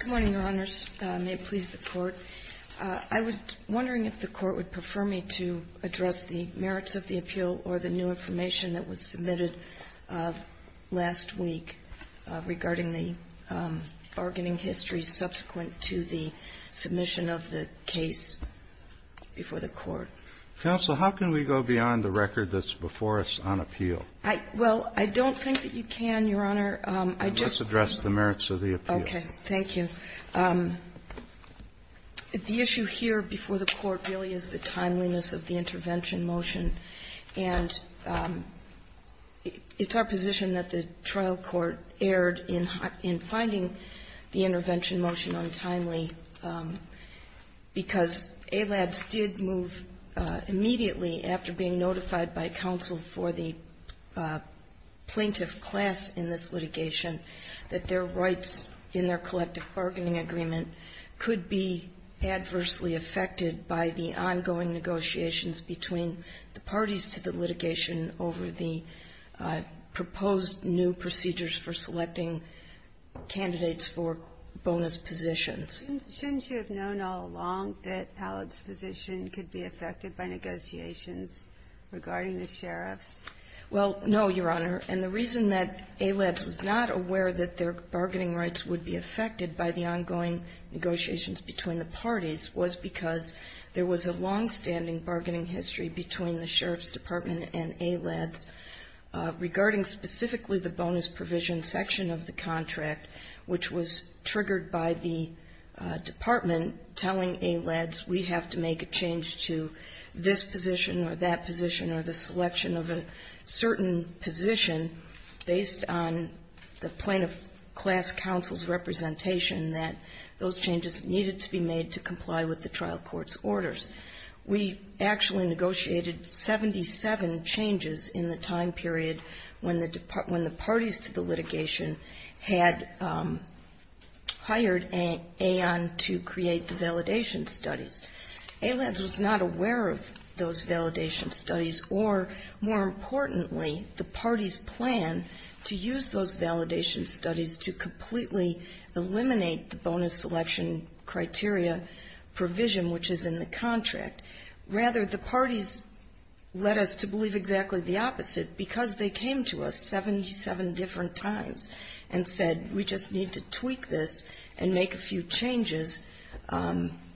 Good morning, Your Honors. May it please the Court. I was wondering if the Court would prefer me to address the merits of the appeal or the new information that was submitted last week regarding the bargaining history subsequent to the submission of the case before the Court. Counsel, how can we go beyond the record that's before us on appeal? Well, I don't think that you can, Your Honor. Let's address the merits of the appeal. Okay. Thank you. The issue here before the Court really is the timeliness of the intervention motion. And it's our position that the trial court erred in finding the intervention motion untimely, because ALADS did move immediately after being notified by counsel for the plaintiff class in this litigation that their rights in their collective bargaining agreement could be adversely affected by the ongoing negotiations between the parties to the litigation over the proposed new procedures for selecting candidates for bonus positions. Shouldn't you have known all along that ALADS' position could be affected by negotiations regarding the sheriffs? Well, no, Your Honor. And the reason that ALADS was not aware that their bargaining rights would be affected by the ongoing negotiations between the parties was because there was a longstanding bargaining history between the sheriff's department and ALADS regarding specifically the bonus provision section of the contract, which was triggered by the department telling ALADS we have to make a change to this position or that position or the selection of a certain position based on the plaintiff class counsel's representation that those changes needed to be made to comply with the trial court's orders. We actually negotiated 77 changes in the time period when the parties to the litigation had hired AON to create the validation studies. ALADS was not aware of those validation studies or, more importantly, the parties' plan to use those validation studies to completely eliminate the bonus selection criteria provision which is in the contract. Rather, the parties led us to believe exactly the opposite because they came to us 77 different times and said we just need to tweak this and make a few changes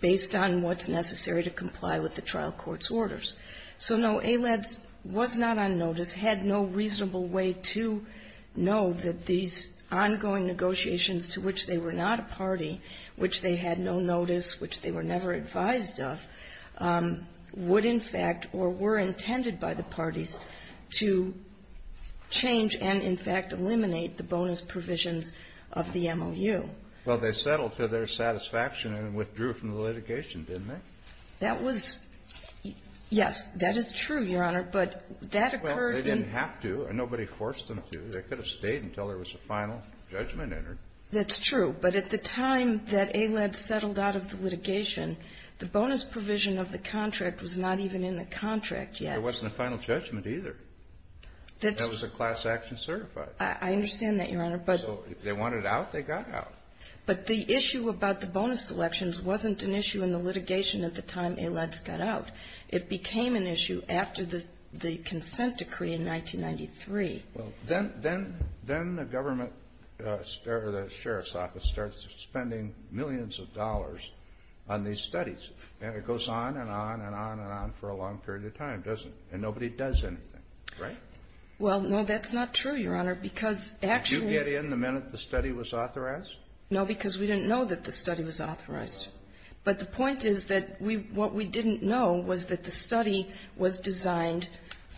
based on what's necessary to comply with the trial court's orders. So, no, ALADS was not on notice, had no reasonable way to know that these ongoing negotiations to which they were not a party, which they had no notice, which they were never advised of, would, in fact, or were intended by the parties to change and, in fact, eliminate the bonus provisions of the MOU. Well, they settled to their satisfaction and withdrew from the litigation, didn't they? That was yes. That is true, Your Honor. But that occurred in. Well, they didn't have to. Nobody forced them to. They could have stayed until there was a final judgment entered. That's true. But at the time that ALADS settled out of the litigation, the bonus provision of the contract was not even in the contract yet. There wasn't a final judgment either. That was a class action certified. I understand that, Your Honor, but. So if they wanted out, they got out. But the issue about the bonus selections wasn't an issue in the litigation at the time ALADS got out. It became an issue after the consent decree in 1993. Well, then the government, the sheriff's office starts spending millions of dollars on these studies, and it goes on and on and on and on for a long period of time, doesn't it? And nobody does anything, right? Well, no, that's not true, Your Honor, because actually. Didn't they get in the minute the study was authorized? No, because we didn't know that the study was authorized. But the point is that what we didn't know was that the study was designed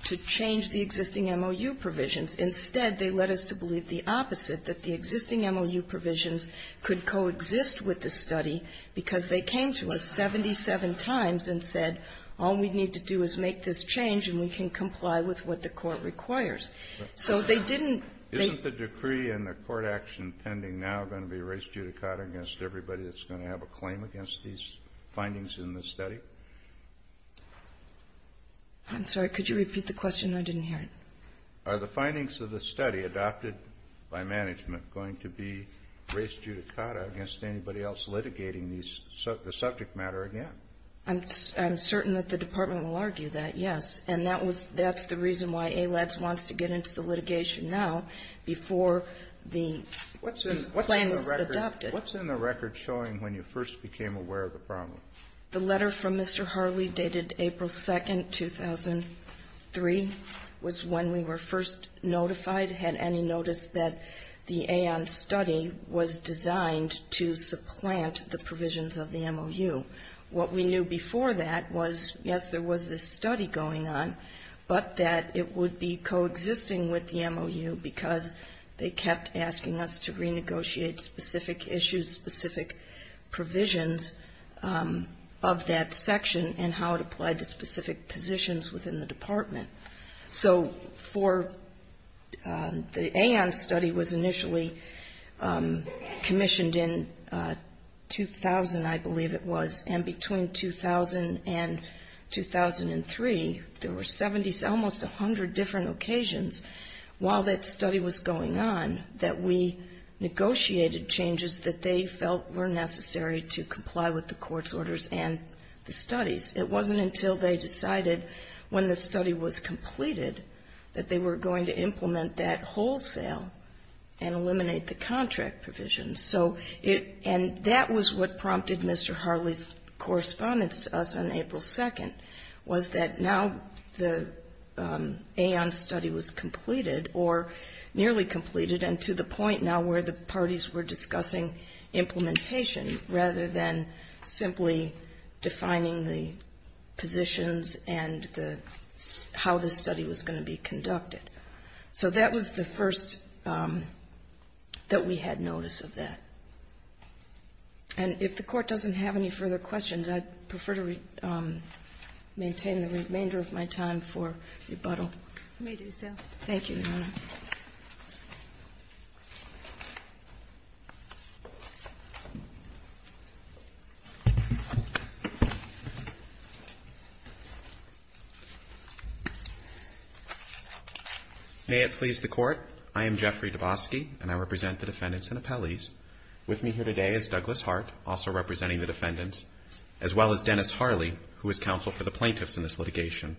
to change the existing MOU provisions. Instead, they led us to believe the opposite, that the existing MOU provisions could coexist with the study because they came to us 77 times and said, all we need to do is make this change and we can comply with what the Court requires. So they didn't. Isn't the decree and the court action pending now going to be res judicata against everybody that's going to have a claim against these findings in the study? I'm sorry. Could you repeat the question? I didn't hear it. Are the findings of the study adopted by management going to be res judicata against anybody else litigating the subject matter again? I'm certain that the Department will argue that, yes. And that's the reason why ALADS wants to get into the litigation now before the plan is adopted. What's in the record showing when you first became aware of the problem? The letter from Mr. Harley dated April 2nd, 2003 was when we were first notified, had any notice that the AON study was designed to supplant the provisions of the MOU. What we knew before that was, yes, there was this study going on, but that it would be coexisting with the MOU because they kept asking us to renegotiate specific issues, specific provisions of that section and how it applied to specific positions within the Department. So for the AON study was initially commissioned in 2000, I believe it was, and between 2000 and 2003, there were 70, almost 100 different occasions while that study was going on that we negotiated changes that they felt were necessary to comply with the court's orders and the studies. It wasn't until they decided when the study was completed that they were going to implement that wholesale and eliminate the contract provisions. So it — and that was what prompted Mr. Harley's correspondence to us on April 2nd, was that now the AON study was completed or nearly completed and to the point now where the parties were discussing implementation rather than simply defining the positions and the — how the study was going to be conducted. So that was the first that we had notice of that. And if the Court doesn't have any further questions, I'd prefer to maintain the remainder of my time for rebuttal. You may do so. Thank you, Your Honor. May it please the Court. I am Jeffrey Dabosky, and I represent the defendants and appellees. With me here today is Douglas Hart, also representing the defendants, as well as Dennis Harley, who is counsel for the plaintiffs in this litigation.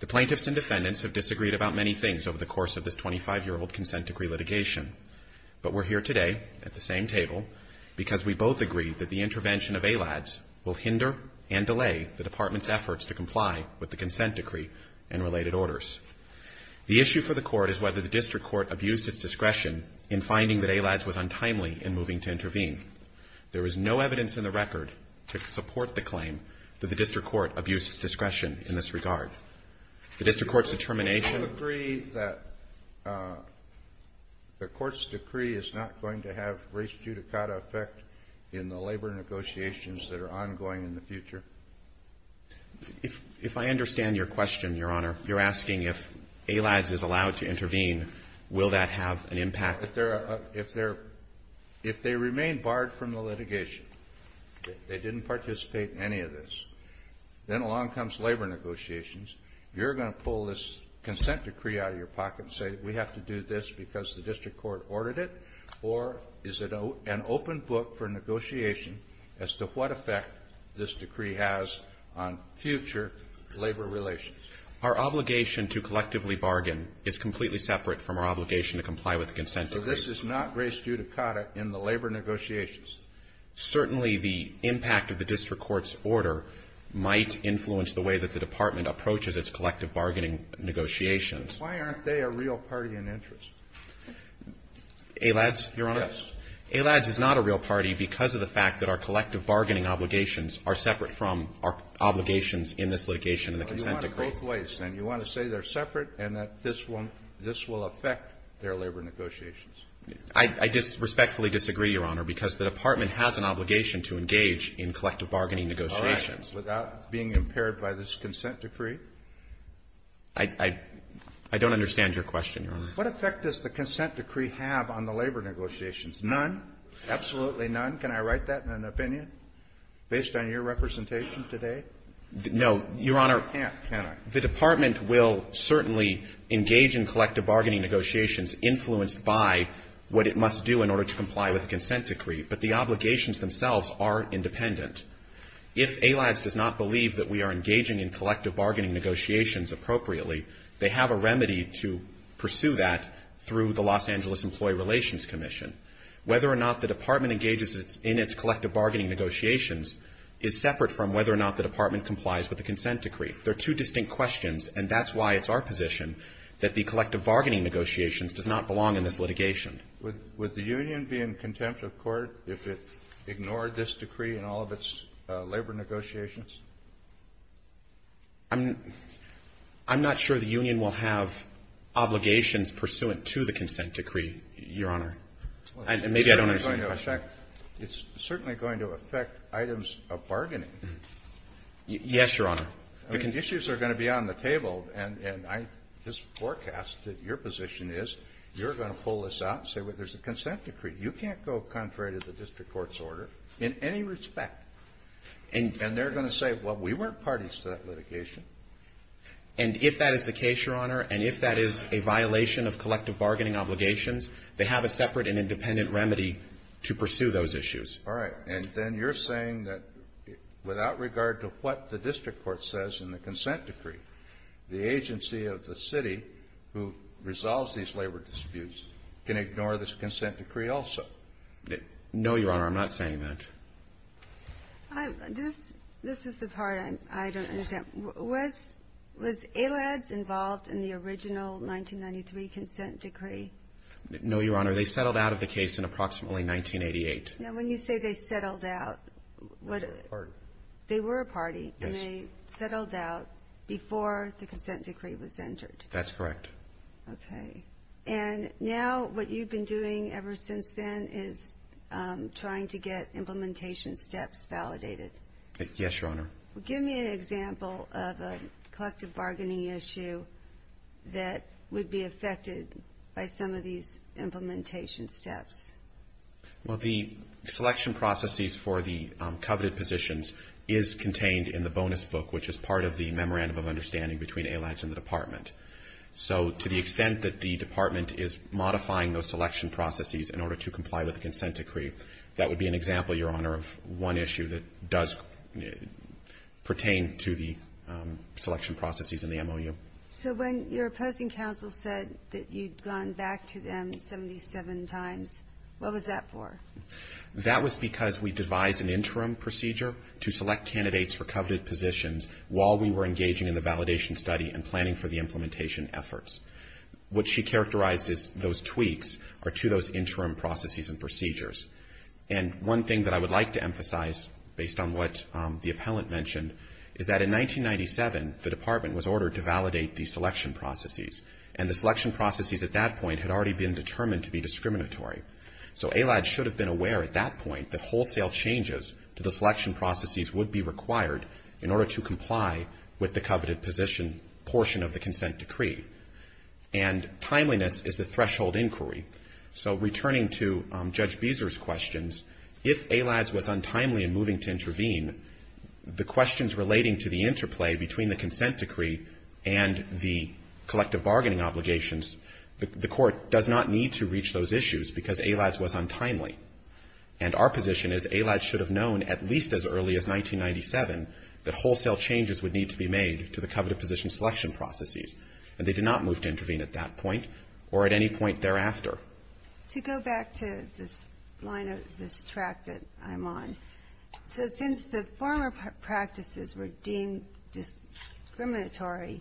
The plaintiffs and defendants have disagreed about many things over the course of this 25-year-old consent decree litigation. But we're here today at the same table because we both agree that the intervention of ALADS will hinder and delay the Department's efforts to comply with the consent decree and related orders. The issue for the Court is whether the district court abused its discretion in finding that ALADS was untimely in moving to intervene. There is no evidence in the record to support the claim that the district court abused its discretion in this regard. The district court's determination — Do you agree that the Court's decree is not going to have res judicata effect in the labor negotiations that are ongoing in the future? If I understand your question, Your Honor, you're asking if ALADS is allowed to intervene, will that have an impact? If they remain barred from the litigation, they didn't participate in any of this, then along comes labor negotiations. You're going to pull this consent decree out of your pocket and say we have to do this because the district court ordered it? Or is it an open book for negotiation as to what effect this decree has on future labor relations? Our obligation to collectively bargain is completely separate from our obligation to comply with the consent decree. So this is not res judicata in the labor negotiations? Certainly the impact of the district court's order might influence the way that the Department approaches its collective bargaining negotiations. Why aren't they a real party in interest? ALADS, Your Honor? Yes. ALADS is not a real party because of the fact that our collective bargaining obligations are separate from our obligations in this litigation and the consent decree. Well, you want them both ways, then. You want to say they're separate and that this will affect their labor negotiations. I respectfully disagree, Your Honor, because the Department has an obligation to engage in collective bargaining negotiations. All right. Without being impaired by this consent decree? I don't understand your question, Your Honor. What effect does the consent decree have on the labor negotiations? None? Absolutely none? Can I write that in an opinion based on your representation today? No, Your Honor. You can't, can I? The Department will certainly engage in collective bargaining negotiations influenced by what it must do in order to comply with the consent decree, but the obligations themselves are independent. If ALADS does not believe that we are engaging in collective bargaining negotiations appropriately, they have a remedy to pursue that through the Los Angeles Employee Relations Commission. Whether or not the Department engages in its collective bargaining negotiations is separate from whether or not the Department complies with the consent decree. They're two distinct questions, and that's why it's our position that the collective bargaining negotiations does not belong in this litigation. Would the union be in contempt of court if it ignored this decree in all of its labor negotiations? I'm not sure the union will have obligations pursuant to the consent decree, Your Honor. Maybe I don't understand your question. It's certainly going to affect items of bargaining. Yes, Your Honor. Issues are going to be on the table, and I just forecast that your position is you're going to pull this out and say, well, there's a consent decree. You can't go contrary to the district court's order in any respect. And they're going to say, well, we weren't parties to that litigation. And if that is the case, Your Honor, and if that is a violation of collective bargaining obligations, they have a separate and independent remedy to pursue those issues. All right. And then you're saying that without regard to what the district court says in the consent decree, the agency of the city who resolves these labor disputes can ignore this consent decree also? No, Your Honor. I'm not saying that. This is the part I don't understand. Was ALADS involved in the original 1993 consent decree? No, Your Honor. They settled out of the case in approximately 1988. Now, when you say they settled out, they were a party. Yes. And they settled out before the consent decree was entered. That's correct. Okay. And now what you've been doing ever since then is trying to get implementation steps validated. Yes, Your Honor. Give me an example of a collective bargaining issue that would be affected by some of these implementation steps. Well, the selection processes for the coveted positions is contained in the bonus book, which is part of the memorandum of understanding between ALADS and the department. So to the extent that the department is modifying those selection processes in order to comply with the consent decree, that would be an example, Your Honor, of one issue that does pertain to the selection processes in the MOU. So when your opposing counsel said that you'd gone back to them 77 times, what was that for? That was because we devised an interim procedure to select candidates for coveted positions while we were engaging in the validation study and planning for the implementation efforts. What she characterized as those tweaks are to those interim processes and procedures. And one thing that I would like to emphasize, based on what the appellant mentioned, is that in 1997, the department was ordered to validate the selection processes. And the selection processes at that point had already been determined to be discriminatory. So ALADS should have been aware at that point that wholesale changes to the selection processes would be required in order to comply with the coveted position portion of the consent decree. And timeliness is the threshold inquiry. So returning to Judge Beeser's questions, if ALADS was untimely in moving to questions relating to the interplay between the consent decree and the collective bargaining obligations, the Court does not need to reach those issues because ALADS was untimely. And our position is ALADS should have known at least as early as 1997 that wholesale changes would need to be made to the coveted position selection processes. And they did not move to intervene at that point or at any point thereafter. To go back to this track that I'm on, so since the former practices were deemed discriminatory,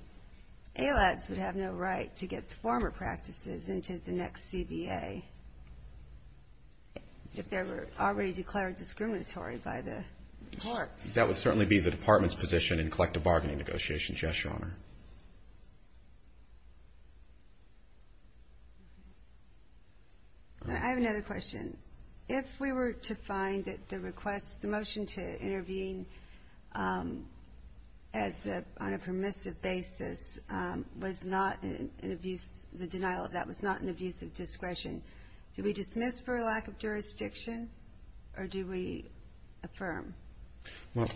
ALADS would have no right to get the former practices into the next CBA if they were already declared discriminatory by the courts. That would certainly be the department's position in collective bargaining negotiations, yes, Your Honor. Ginsburg. I have another question. If we were to find that the request, the motion to intervene as a permissive basis was not an abuse, the denial of that was not an abuse of discretion, do we dismiss for lack of jurisdiction, or do we affirm? Well,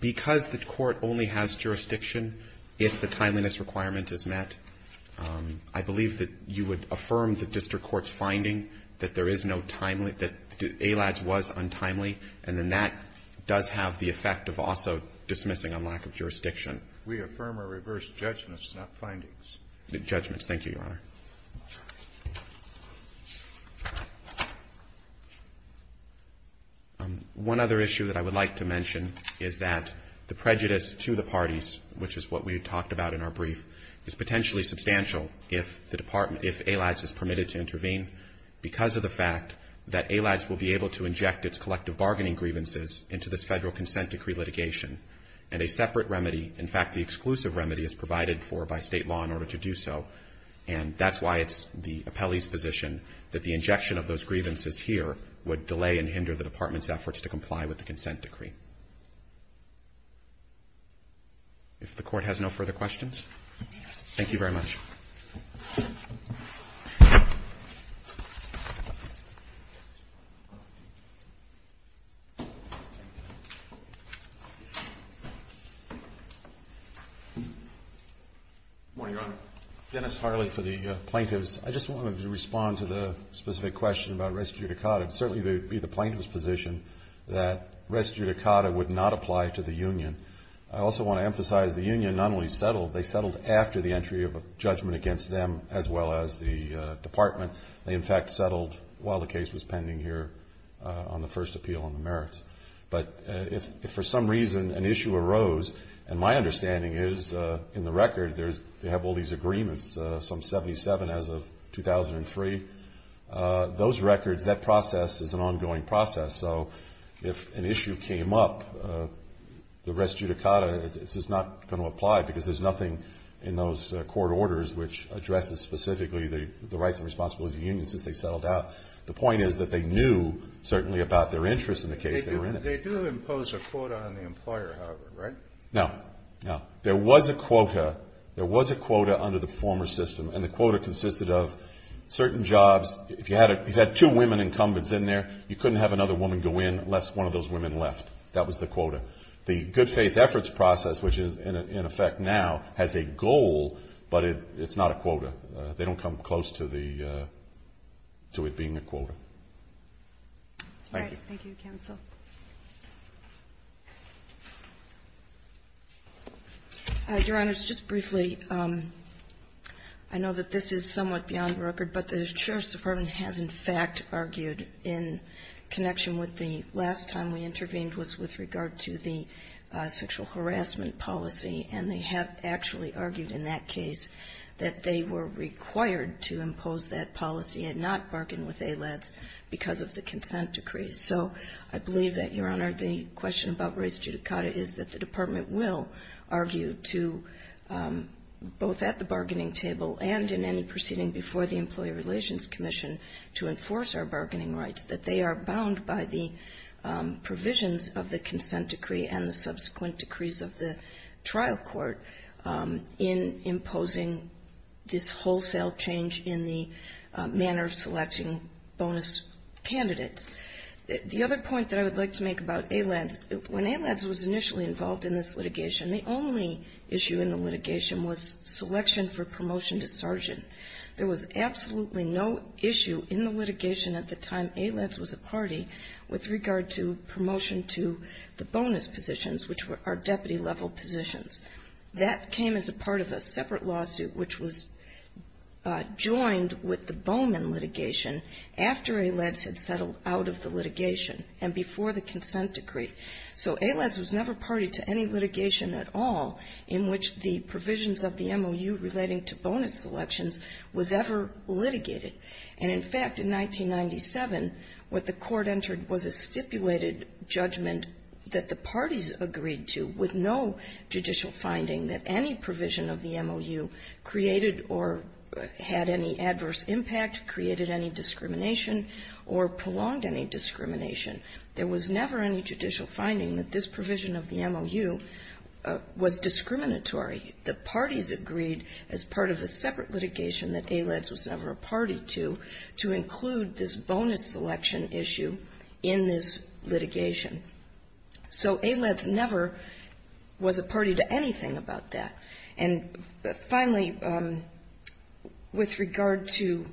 because the Court only has jurisdiction if the timeliness requirement is met, I believe that you would affirm the district court's finding that there is no timely, that ALADS was untimely, and then that does have the effect of also dismissing on lack of jurisdiction. We affirm or reverse judgments, not findings. Judgments. Thank you, Your Honor. One other issue that I would like to mention is that the prejudice to the parties, which is what we had talked about in our brief, is potentially substantial if the department, if ALADS is permitted to intervene because of the fact that ALADS will be able to inject its collective bargaining grievances into this Federal Consent Decree litigation, and a separate remedy, in fact, the exclusive remedy is provided for by State law in order to do so. And that's why it's the appellee's position that the injection of those grievances here would delay and hinder the department's efforts to comply with the Consent Decree. If the Court has no further questions, thank you very much. Good morning, Your Honor. Dennis Harley for the plaintiffs. I just wanted to respond to the specific question about res judicata. Certainly, it would be the plaintiff's position that res judicata would not apply to the union. I also want to emphasize the union not only settled, they settled after the entry of a judgment against them as well as the department. They, in fact, settled while the case was pending here on the first appeal on the merits. But if for some reason an issue arose, and my understanding is in the record they have all these agreements, some 77 as of 2003. Those records, that process is an ongoing process. So if an issue came up, the res judicata is not going to apply because there's nothing in those court orders which addresses specifically the rights and responsibilities of unions since they settled out. The point is that they knew, certainly, about their interest in the case they were in. They do impose a quota on the employer, however, right? No. No. There was a quota. There was a quota under the former system, and the quota consisted of certain jobs. If you had two women incumbents in there, you couldn't have another woman go in unless one of those women left. That was the quota. The good faith efforts process, which is in effect now, has a goal, but it's not a quota. They don't come close to the, to it being a quota. Thank you. All right. Thank you, counsel. Your Honors, just briefly, I know that this is somewhat beyond record, but the Sheriff's Department has, in fact, argued in connection with the last time we went through the sexual harassment policy, and they have actually argued in that case that they were required to impose that policy and not bargain with ALADS because of the consent decrees. So I believe that, Your Honor, the question about race judicata is that the Department will argue to, both at the bargaining table and in any proceeding before the Employee Relations Commission, to enforce our bargaining rights, that they are bound by the provisions of the consent decree and the subsequent decrees of the trial court in imposing this wholesale change in the manner of selecting bonus candidates. The other point that I would like to make about ALADS, when ALADS was initially involved in this litigation, the only issue in the litigation was selection for promotion to sergeant. There was absolutely no issue in the litigation at the time ALADS was a party with regard to promotion to the bonus positions, which were our deputy-level positions. That came as a part of a separate lawsuit which was joined with the Bowman litigation after ALADS had settled out of the litigation and before the consent decree. So ALADS was never party to any litigation at all in which the provisions of the MOU relating to bonus selections was ever litigated. And, in fact, in 1997, what the Court entered was a stipulated judgment that the parties agreed to with no judicial finding that any provision of the MOU created or had any adverse impact, created any discrimination, or prolonged any discrimination. There was never any judicial finding that this provision of the MOU was discriminatory. The parties agreed, as part of a separate litigation that ALADS was never a party to, to include this bonus selection issue in this litigation. So ALADS never was a party to anything about that. And, finally, with regard to ‑‑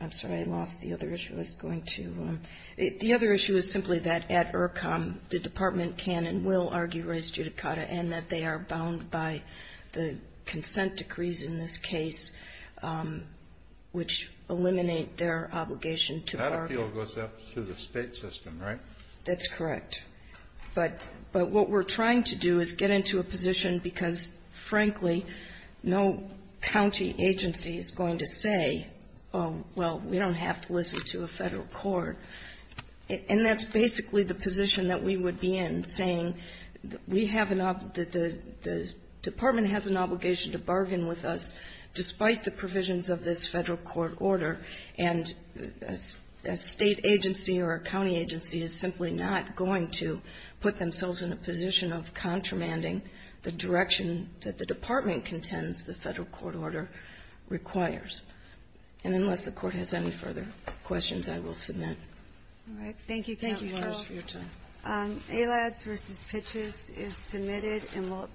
I'm sorry. I lost the other issue. I was going to ‑‑ the other issue is simply that at IRCCOM, the Department can and will argue res judicata, and that they are bound by the consent decrees in this case, which eliminate their obligation to party. Kennedy. That appeal goes up through the State system, right? That's correct. But what we're trying to do is get into a position, because, frankly, no county agency is going to say, oh, well, we don't have to listen to a Federal court. And that's basically the position that we would be in, saying we have an ‑‑ the Department has an obligation to bargain with us despite the provisions of this Federal court order, and a State agency or a county agency is simply not going to put themselves in a position of contramanding the direction that the Department contends the Federal court order requires. And unless the court has any further questions, I will submit. All right. Thank you, counsel. Thank you, Liz, for your time. ALADS v. Pitches is submitted.